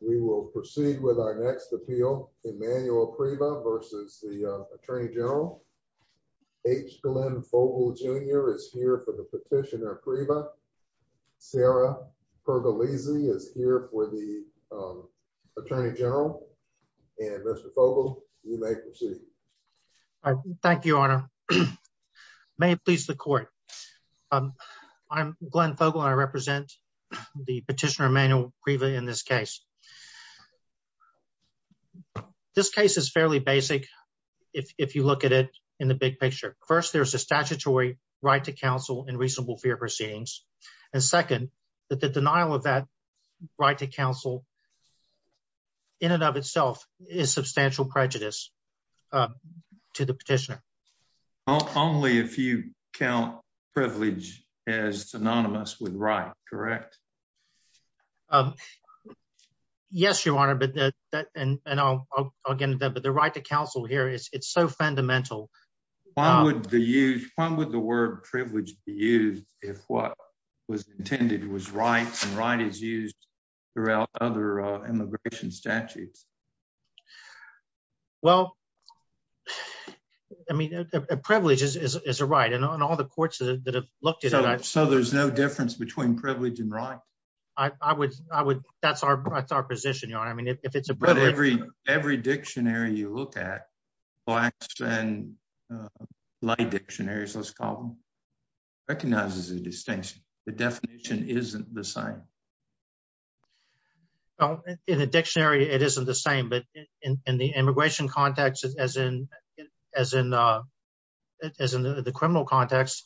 We will proceed with our next appeal, Emmanuel Priva v. U.S. Attorney General. H. Glenn Fogle Jr. is here for the petitioner Priva. Sarah Pergolesi is here for the Attorney General. Mr. Fogle, you may proceed. Thank you, Your Honor. May it please the Court. I'm Glenn Fogle and I represent the petitioner Emmanuel Priva in this case. This case is fairly basic if you look at it in the big picture. First, there's a statutory right to counsel in reasonable fear proceedings. And second, the denial of that right to counsel in and of itself is substantial prejudice to the petitioner. Only if you count privilege as synonymous with right, correct? Yes, Your Honor, but the right to counsel here is so fundamental. Why would the word privilege be used if what was intended was right and right is used throughout other immigration statutes? Well, I mean, privilege is a right, and on all the courts that have looked at it. So there's no difference between privilege and right? I would – that's our position, Your Honor. I mean, if it's a privilege… But every dictionary you look at, blacks and light dictionaries, let's call them, recognizes a distinction. The definition isn't the same. In a dictionary, it isn't the same. But in the immigration context, as in the criminal context,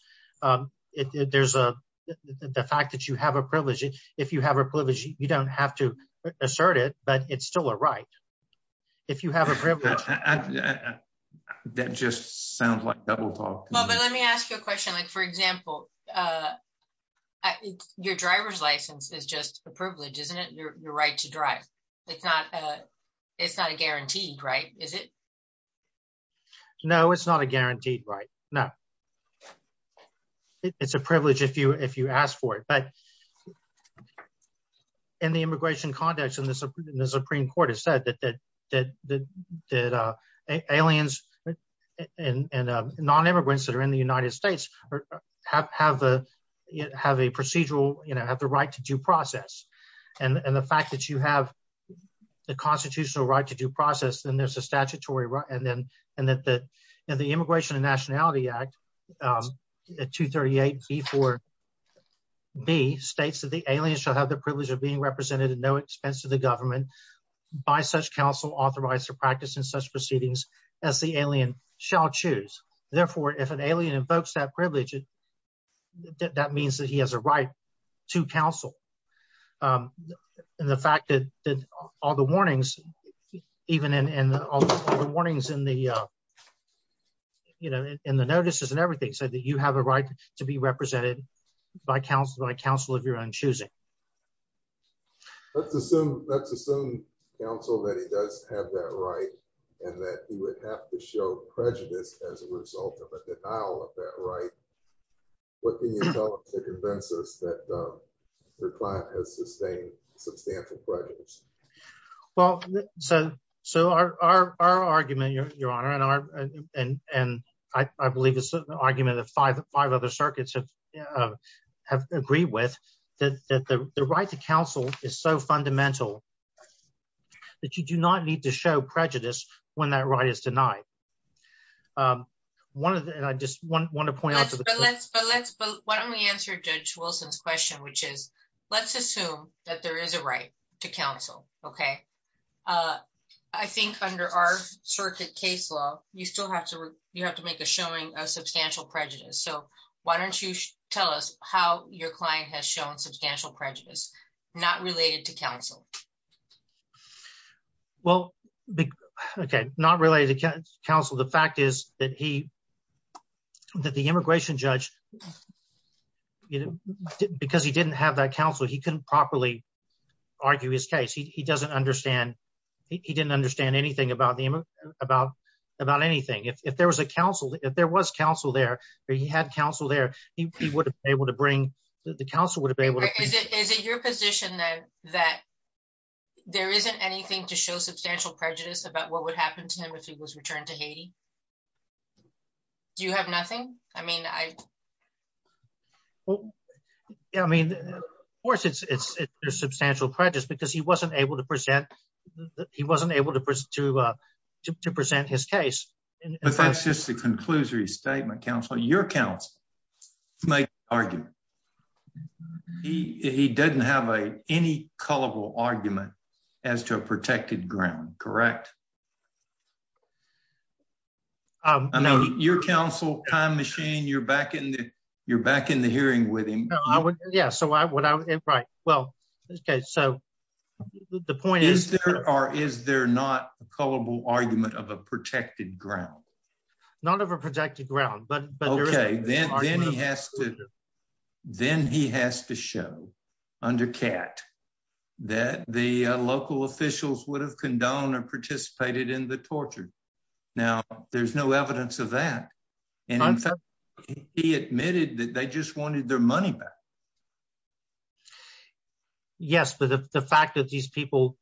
there's the fact that you have a privilege. If you have a privilege, you don't have to assert it, but it's still a right. If you have a privilege… That just sounds like double talk. But let me ask you a question. Like, for example, your driver's license is just a privilege, isn't it? Your right to drive. It's not a guaranteed right, is it? No, it's not a guaranteed right, no. It's a privilege if you ask for it. But in the immigration context, and the Supreme Court has said that aliens and nonimmigrants that are in the United States have a procedural – have the right to due process. And the fact that you have the constitutional right to due process, then there's a statutory right. And the Immigration and Nationality Act, 238b4b, states that the alien shall have the privilege of being represented at no expense to the government by such counsel authorized to practice in such proceedings as the alien shall choose. Therefore, if an alien invokes that privilege, that means that he has a right to counsel. And the fact that all the warnings, even in all the warnings in the notices and everything, said that you have a right to be represented by counsel of your own choosing. Let's assume counsel that he does have that right and that he would have to show prejudice as a result of a denial of that right. What can you tell us to convince us that your client has sustained substantial prejudice? Well, so our argument, Your Honor, and I believe it's an argument that five other circuits have agreed with, that the right to counsel is so fundamental that you do not need to show prejudice when that right is denied. Why don't we answer Judge Wilson's question, which is, let's assume that there is a right to counsel, okay? I think under our circuit case law, you still have to make a showing of substantial prejudice. So why don't you tell us how your client has shown substantial prejudice not related to counsel? Well, okay, not related to counsel. The fact is that he, that the immigration judge, because he didn't have that counsel, he couldn't properly argue his case. He doesn't understand. He didn't understand anything about anything. If there was a counsel, if there was counsel there, or he had counsel there, he would have been able to bring, the counsel would have been able to- Is it your position that there isn't anything to show substantial prejudice about what would happen to him if he was returned to Haiti? Do you have nothing? I mean, I- Well, yeah, I mean, of course it's substantial prejudice because he wasn't able to present, he wasn't able to present his case. But that's just a conclusory statement, counsel. Your counsel makes the argument. He doesn't have any culpable argument as to a protected ground, correct? I mean, your counsel, time machine, you're back in the hearing with him. Yeah, so I would, right, well, okay, so the point is- Is there or is there not a culpable argument of a protected ground? Not of a protected ground, but- Okay, then he has to show under Kat that the local officials would have condoned or participated in the torture. Now, there's no evidence of that. And in fact, he admitted that they just wanted their money back. Yes, but the fact that these people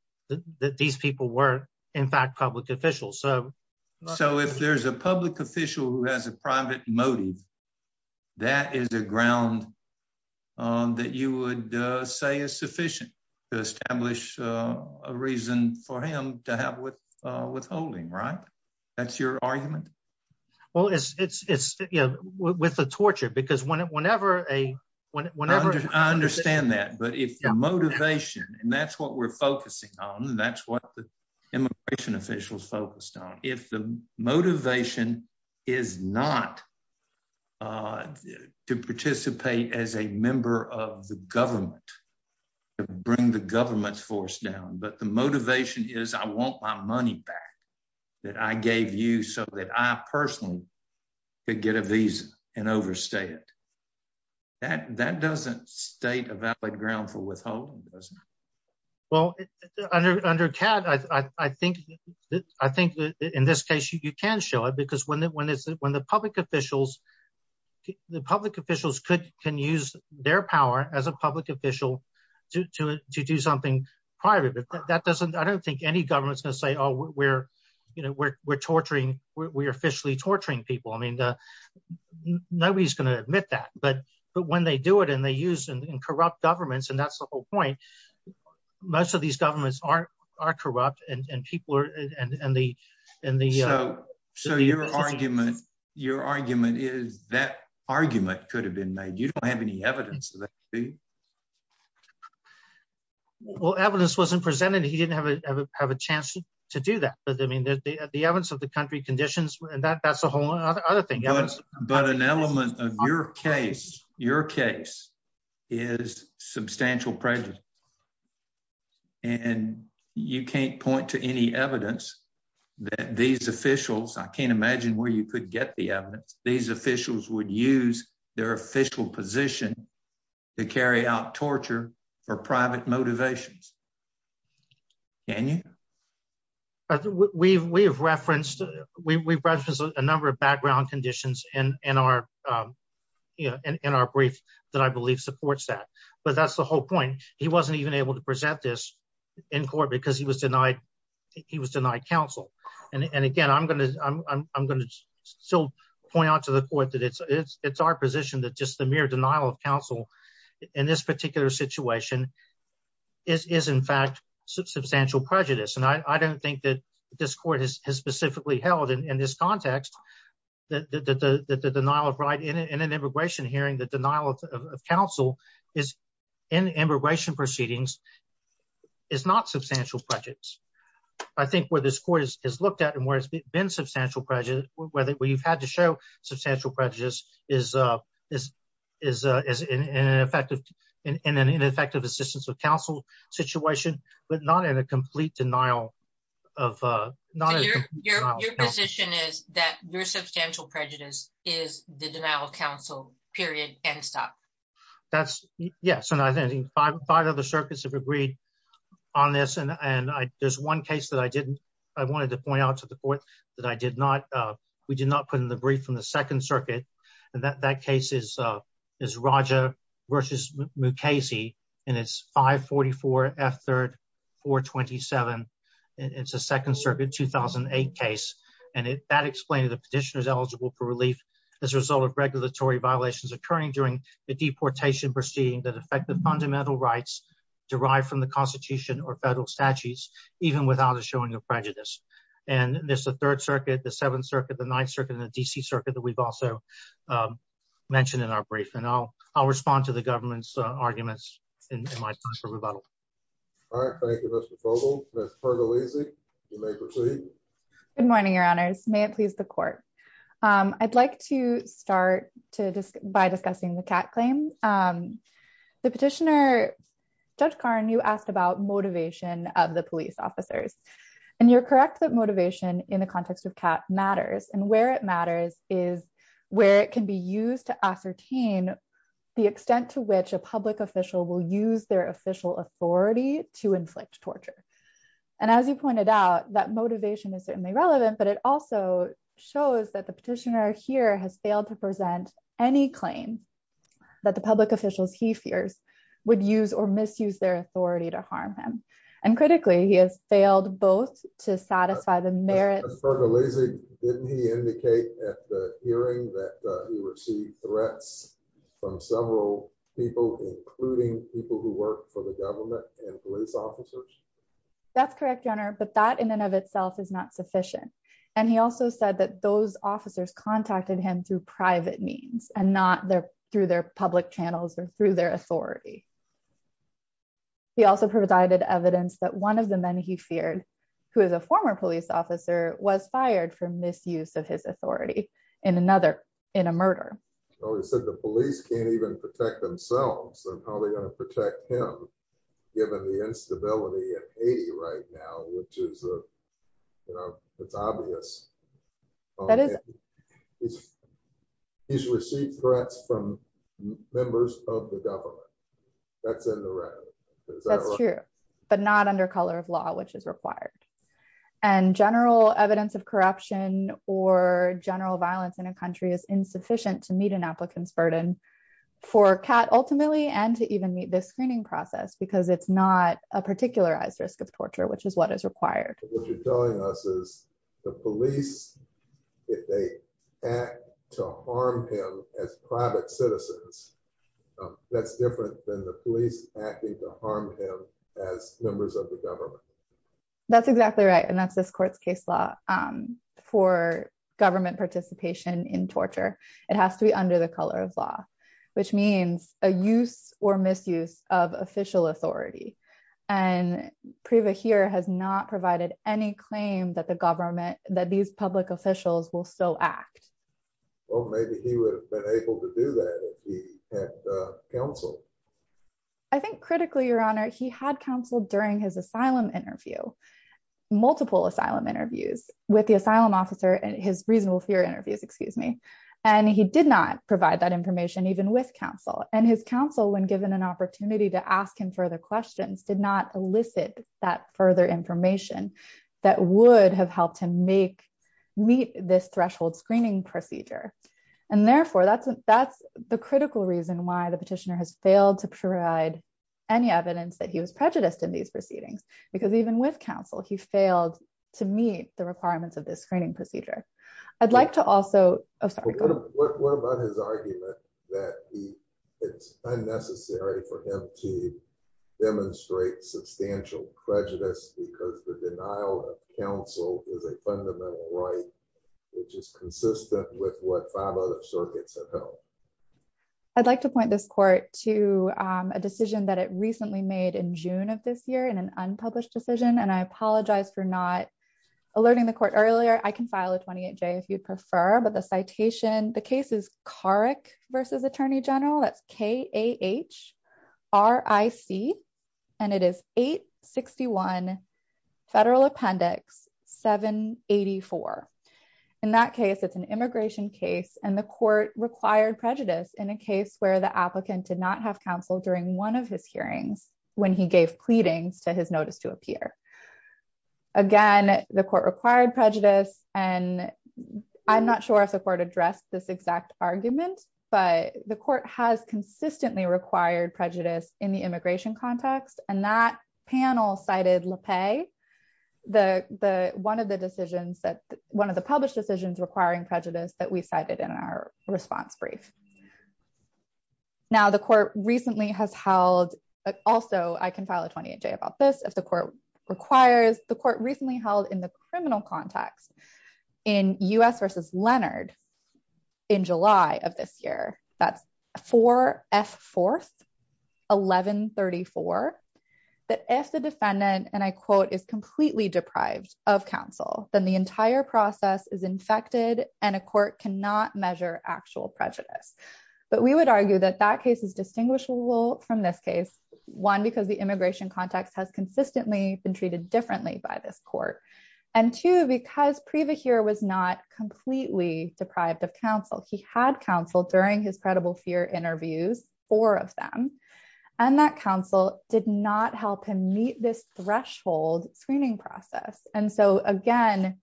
were, in fact, public officials, so- So if there's a public official who has a private motive, that is a ground that you would say is sufficient to establish a reason for him to have withholding, right? That's your argument? Well, it's, you know, with the torture, because whenever a- I understand that, but if the motivation, and that's what we're focusing on, that's what the immigration officials focused on. If the motivation is not to participate as a member of the government, to bring the government's force down, but the motivation is, I want my money back that I gave you so that I personally could get a visa and overstay it. That doesn't state a valid ground for withholding, does it? Well, under CAD, I think, in this case, you can show it, because when the public officials can use their power as a public official to do something private, I don't think any government's going to say, oh, we're officially torturing people. I mean, nobody's going to admit that. But when they do it, and they use and corrupt governments, and that's the whole point, most of these governments are corrupt, and people are- So your argument is that argument could have been made. You don't have any evidence of that. Well, evidence wasn't presented. He didn't have a chance to do that. But, I mean, the evidence of the country conditions, that's a whole other thing. But an element of your case is substantial prejudice, and you can't point to any evidence that these officials- I can't imagine where you could get the evidence- these officials would use their official position to carry out torture for private motivations. Can you? We've referenced a number of background conditions in our brief that I believe supports that. But that's the whole point. He wasn't even able to present this in court because he was denied counsel. And, again, I'm going to still point out to the court that it's our position that just the mere denial of counsel in this particular situation is, in fact, substantial prejudice. And I don't think that this court has specifically held in this context that the denial of right in an immigration hearing, the denial of counsel in immigration proceedings is not substantial prejudice. I think where this court has looked at and where it's been substantial prejudice, where you've had to show substantial prejudice is in an ineffective assistance of counsel situation, but not in a complete denial of- So your position is that your substantial prejudice is the denial of counsel, period, end stop? Yes, and I think five other circuits have agreed on this, and there's one case that I didn't- I wanted to point out to the court that I did not- we did not put in the brief from the Second Circuit. And that case is Raja versus Mukasey, and it's 544F3-427, and it's a Second Circuit 2008 case. And that explained the petitioner's eligible for relief as a result of regulatory violations occurring during the deportation proceeding that affect the fundamental rights derived from the Constitution or federal statutes, even without a showing of prejudice. And there's the Third Circuit, the Seventh Circuit, the Ninth Circuit, and the D.C. Circuit that we've also mentioned in our brief, and I'll respond to the government's arguments in my time for rebuttal. All right, thank you, Mr. Fogle. Ms. Pernelisi, you may proceed. Good morning, Your Honors. May it please the court. I'd like to start by discussing the Catt claim. The petitioner, Judge Karn, you asked about motivation of the police officers. And you're correct that motivation in the context of Catt matters, and where it matters is where it can be used to ascertain the extent to which a public official will use their official authority to inflict torture. And as you pointed out, that motivation is certainly relevant, but it also shows that the petitioner here has failed to present any claim that the public officials he fears would use or misuse their authority to harm him. And critically, he has failed both to satisfy the merits... Ms. Pernelisi, didn't he indicate at the hearing that he received threats from several people, including people who work for the government and police officers? That's correct, Your Honor, but that in and of itself is not sufficient. And he also said that those officers contacted him through private means and not through their public channels or through their authority. He also provided evidence that one of the men he feared, who is a former police officer, was fired for misuse of his authority in another, in a murder. Oh, he said the police can't even protect themselves. They're probably going to protect him, given the instability in Haiti right now, which is, you know, it's obvious. That is... He's received threats from members of the government. That's in the red. That's true, but not under color of law, which is required. And general evidence of corruption or general violence in a country is insufficient to meet an applicant's burden for CAT, ultimately, and to even meet the screening process, because it's not a particularized risk of torture, which is what is required. What you're telling us is the police, if they act to harm him as private citizens, that's different than the police acting to harm him as members of the government. That's exactly right. And that's this court's case law for government participation in torture. It has to be under the color of law, which means a use or misuse of official authority. And Priva here has not provided any claim that the government, that these public officials will still act. Well, maybe he would have been able to do that if he had counsel. I think critically, Your Honor, he had counsel during his asylum interview, multiple asylum interviews with the asylum officer and his reasonable fear interviews, excuse me. And he did not provide that information even with counsel and his counsel when given an opportunity to ask him further questions did not elicit that further information that would have helped him meet this threshold screening procedure. And therefore, that's the critical reason why the petitioner has failed to provide any evidence that he was prejudiced in these proceedings, because even with counsel, he failed to meet the requirements of this screening procedure. I'd like to also... I'd like to point this court to a decision that it recently made in June of this year in an unpublished decision and I apologize for not alerting the court earlier, I can file a 28J if you'd prefer, but the citation, the case is Carrick v. Attorney General, that's K-A-H-R-I-C. And it is 861 Federal Appendix 784. In that case, it's an immigration case and the court required prejudice in a case where the applicant did not have counsel during one of his hearings, when he gave pleadings to his notice to appear. Again, the court required prejudice, and I'm not sure if the court addressed this exact argument, but the court has consistently required prejudice in the immigration context and that panel cited LePay, one of the decisions that, one of the published decisions requiring prejudice that we cited in our response brief. Now, the court recently has held... Also, I can file a 28J about this if the court requires... The court recently held in the criminal context in U.S. v. Leonard in July of this year, that's 4F4, 1134, that if the defendant, and I quote, is completely deprived of counsel, then the entire process is infected and a court cannot measure actual prejudice. But we would argue that that case is distinguishable from this case, one, because the immigration context has consistently been treated differently by this court. And two, because Prevahir was not completely deprived of counsel, he had counsel during his credible fear interviews, four of them, and that counsel did not help him meet this threshold screening process. And so, again,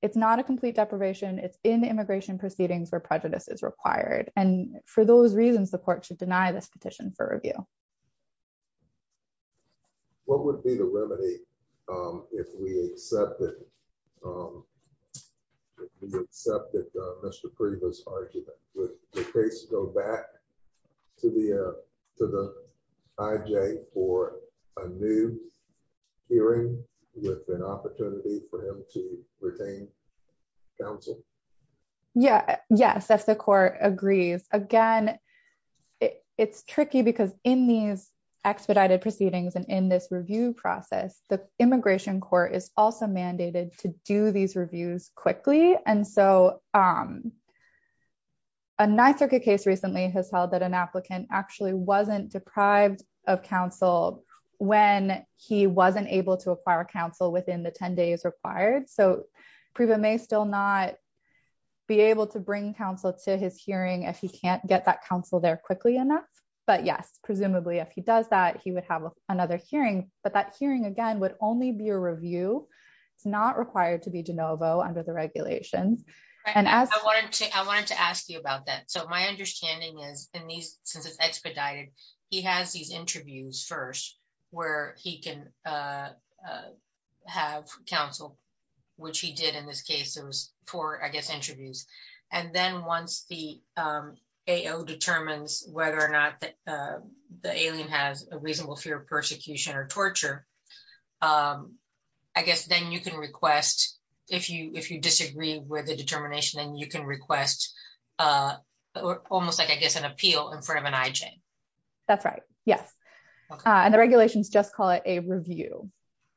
it's not a complete deprivation, it's in the immigration proceedings where prejudice is required. And for those reasons, the court should deny this petition for review. What would be the remedy if we accepted Mr. Prevah's argument? Would the case go back to the IJ for a new hearing with an opportunity for him to retain counsel? Yes, if the court agrees. Again, it's tricky because in these expedited proceedings and in this review process, the immigration court is also mandated to do these reviews quickly. And so, a NYSERCA case recently has held that an applicant actually wasn't deprived of counsel when he wasn't able to acquire counsel within the 10 days required. So, Prevah may still not be able to bring counsel to his hearing if he can't get that counsel there quickly enough. But yes, presumably if he does that, he would have another hearing. But that hearing, again, would only be a review. It's not required to be de novo under the regulations. I wanted to ask you about that. So, my understanding is, since it's expedited, he has these interviews first where he can have counsel, which he did in this case. It was four, I guess, interviews. And then once the AO determines whether or not the alien has a reasonable fear of persecution or torture, I guess then you can request, if you disagree with the determination, then you can request almost like, I guess, an appeal in front of an IJ. That's right. Yes. And the regulations just call it a review.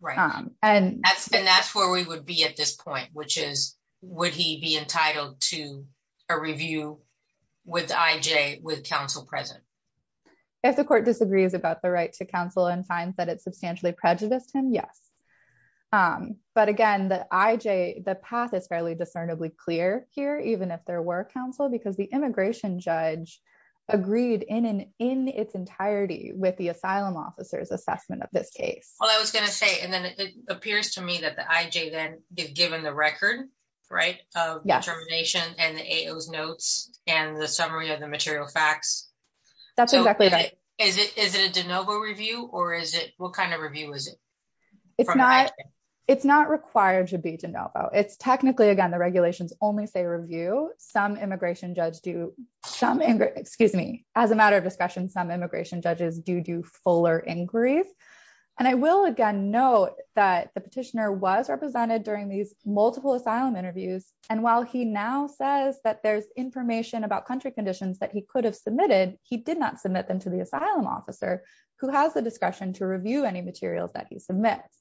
And that's where we would be at this point, which is, would he be entitled to a review with IJ with counsel present? If the court disagrees about the right to counsel and finds that it substantially prejudiced him, yes. But again, the IJ, the path is fairly discernibly clear here, even if there were counsel, because the immigration judge agreed in its entirety with the asylum officer's assessment of this case. Well, I was going to say, and then it appears to me that the IJ then is given the record, right, of determination and the AO's notes and the summary of the material facts. That's exactly right. Is it a de novo review or is it, what kind of review is it? It's not required to be de novo. It's technically, again, the regulations only say review. Some immigration judge do some, excuse me, as a matter of discretion, some immigration judges do do fuller inquiries. And I will again note that the petitioner was represented during these multiple asylum interviews. And while he now says that there's information about country conditions that he could have submitted, he did not submit them to the asylum officer who has the discretion to review any materials that he submits.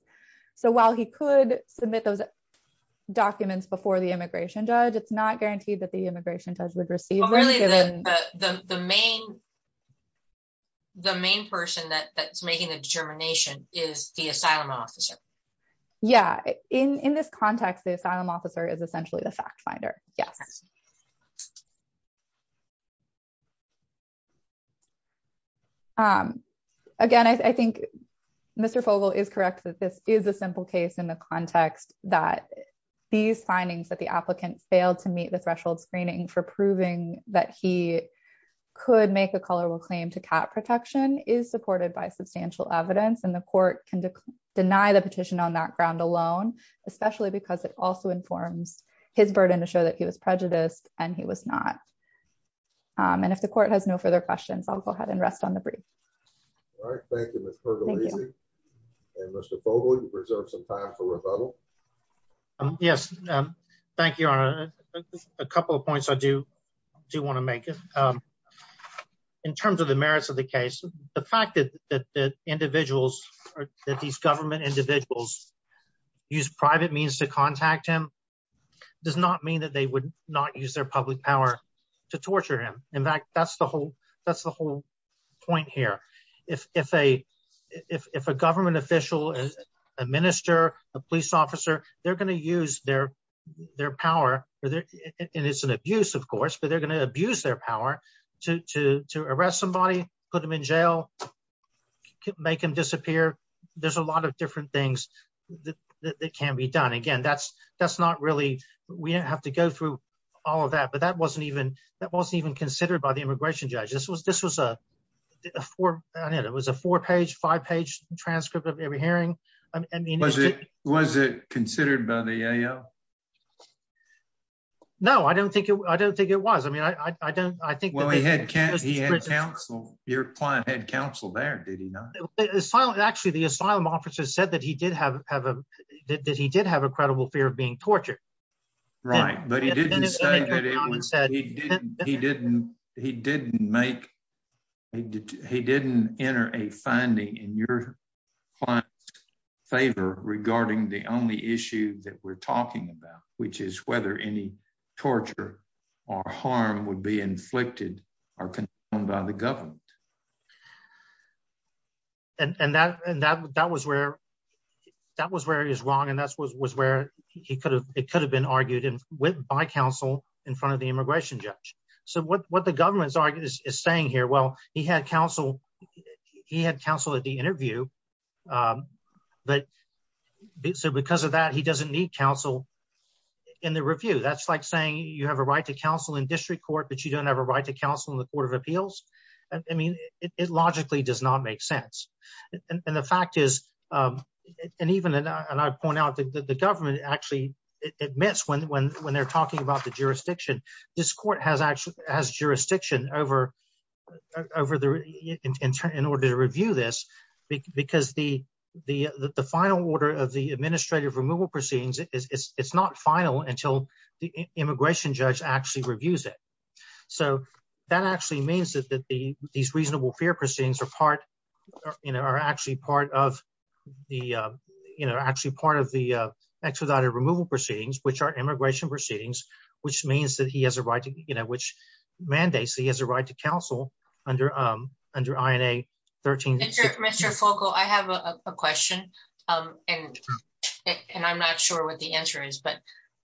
So while he could submit those documents before the immigration judge, it's not guaranteed that the immigration judge would receive them. Really, the main person that's making the determination is the asylum officer. Yeah, in this context, the asylum officer is essentially the fact finder. Yes. Again, I think Mr. Fogle is correct that this is a simple case in the context that these findings that the applicant failed to meet the threshold screening for proving that he could make a color will claim to cap protection is supported by substantial evidence and the court can deny the petition on that ground alone, especially because it also informs his burden to show that he was prejudiced, and he was not. And if the court has no further questions, I'll go ahead and rest on the brief. All right, thank you. Mr. Fogle reserve some time for rebuttal. Yes. Thank you. A couple of points I do do want to make it. In terms of the merits of the case, the fact that the individuals that these government individuals use private means to contact him does not mean that they would not use their public power to torture him. In fact, that's the whole, that's the whole point here. If a, if a government official is a minister, a police officer, they're going to use their, their power for their, and it's an abuse of course but they're going to abuse their power to arrest somebody, put him in jail, make him disappear. There's a lot of different things that can be done again that's, that's not really, we don't have to go through all of that but that wasn't even that wasn't even considered by the immigration judge this was this was a four. It was a four page five page transcript of every hearing. I mean, was it was it considered by the. No, I don't think I don't think it was i mean i don't i think well he had he had counsel, your client had counsel there did he not silent actually the asylum officers said that he did have have a did he did have a credible fear of being tortured. Right, but he didn't say that he didn't, he didn't make. He didn't enter a finding in your favor, regarding the only issue that we're talking about, which is whether any torture or harm would be inflicted or by the government. And that, and that, that was where that was where he was wrong and that's what was where he could have, it could have been argued in with by counsel in front of the immigration judge. So what what the government's argument is saying here well he had counsel. He had counsel at the interview. But because of that he doesn't need counsel in the review that's like saying you have a right to counsel in district court but you don't have a right to counsel in the Court of Appeals. I mean, it logically does not make sense. And the fact is, and even and I point out that the government actually admits when when when they're talking about the jurisdiction. This court has actually has jurisdiction over, over the internet in order to review this, because the, the, the final order of the administrative removal proceedings, it's not final until the immigration judge actually reviews it. So, that actually means that that the these reasonable fear proceedings are part are actually part of the, you know, actually part of the expedited removal proceedings which are immigration proceedings, which means that he has a right to, you know, which mandates that he basically has a right to counsel under under INA 13. Mr focal I have a question. And, and I'm not sure what the answer is but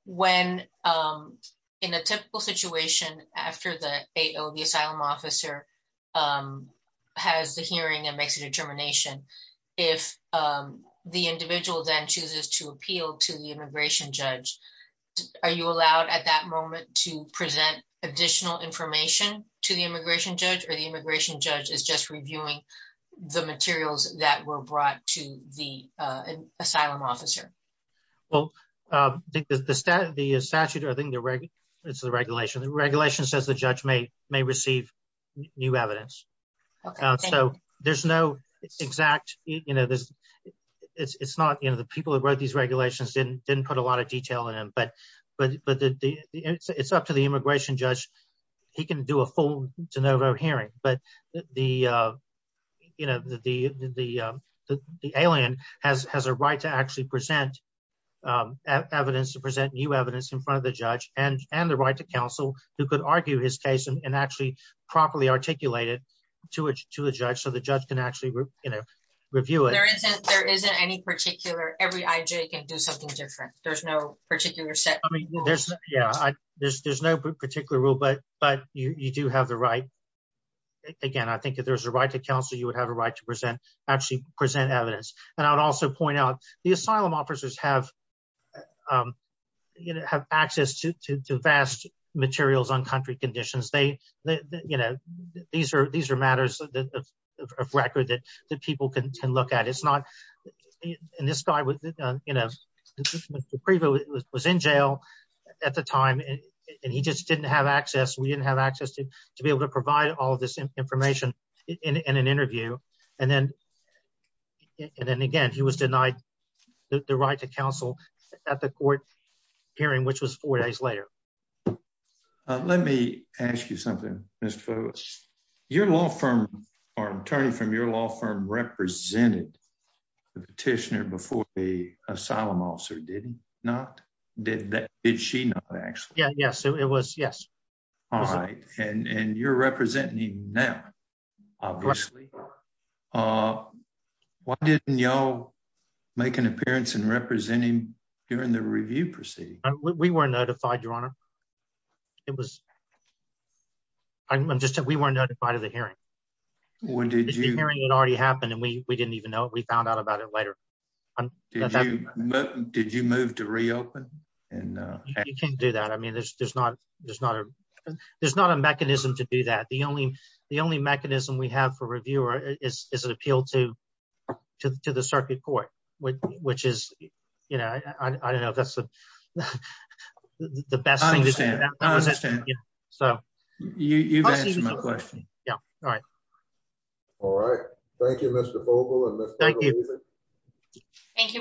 when I'm in a typical situation, after the, the asylum officer has the hearing and makes a determination. If the individual then chooses to appeal to the immigration judge. Are you allowed at that moment to present additional information to the immigration judge or the immigration judge is just reviewing the materials that were brought to the asylum officer. Well, the statute, the statute, I think the regular. It's the regulation the regulation says the judge may may receive new evidence. So, there's no exact, you know, there's. It's not you know the people that wrote these regulations didn't didn't put a lot of detail in but but but the, it's up to the immigration judge. He can do a full de novo hearing, but the, you know, the, the, the, the alien has has a right to actually present evidence to present new evidence in front of the judge and and the right to counsel, who could argue his case and actually properly articulated to it to the judge so the judge can actually review it. There isn't any particular every IJ can do something different. There's no particular set. There's, yeah, there's there's no particular rule but but you do have the right. Again, I think that there's a right to counsel you would have a right to present actually present evidence, and I'd also point out the asylum officers have access to vast materials on country conditions they, you know, these are these are matters of record that the people can look at it's not in this guy was, you know, was in jail. At the time, and he just didn't have access we didn't have access to be able to provide all this information in an interview, and then. And then again he was denied the right to counsel at the court hearing which was four days later. Let me ask you something, Mr. petitioner before the asylum officer didn't not did that. Did she know actually yeah yes it was yes. All right, and you're representing now. Obviously, why didn't y'all make an appearance and representing during the review proceed, we were notified your honor. It was just that we weren't notified of the hearing. When did you hearing it already happened and we didn't even know we found out about it later. Did you move to reopen and you can do that I mean there's there's not, there's not a, there's not a mechanism to do that the only the only mechanism we have for reviewer is an appeal to, to the circuit court, which is, you know, I don't know if that's the best. So, you know, all right. All right. Thank you, Mr. Thank you. Thank you.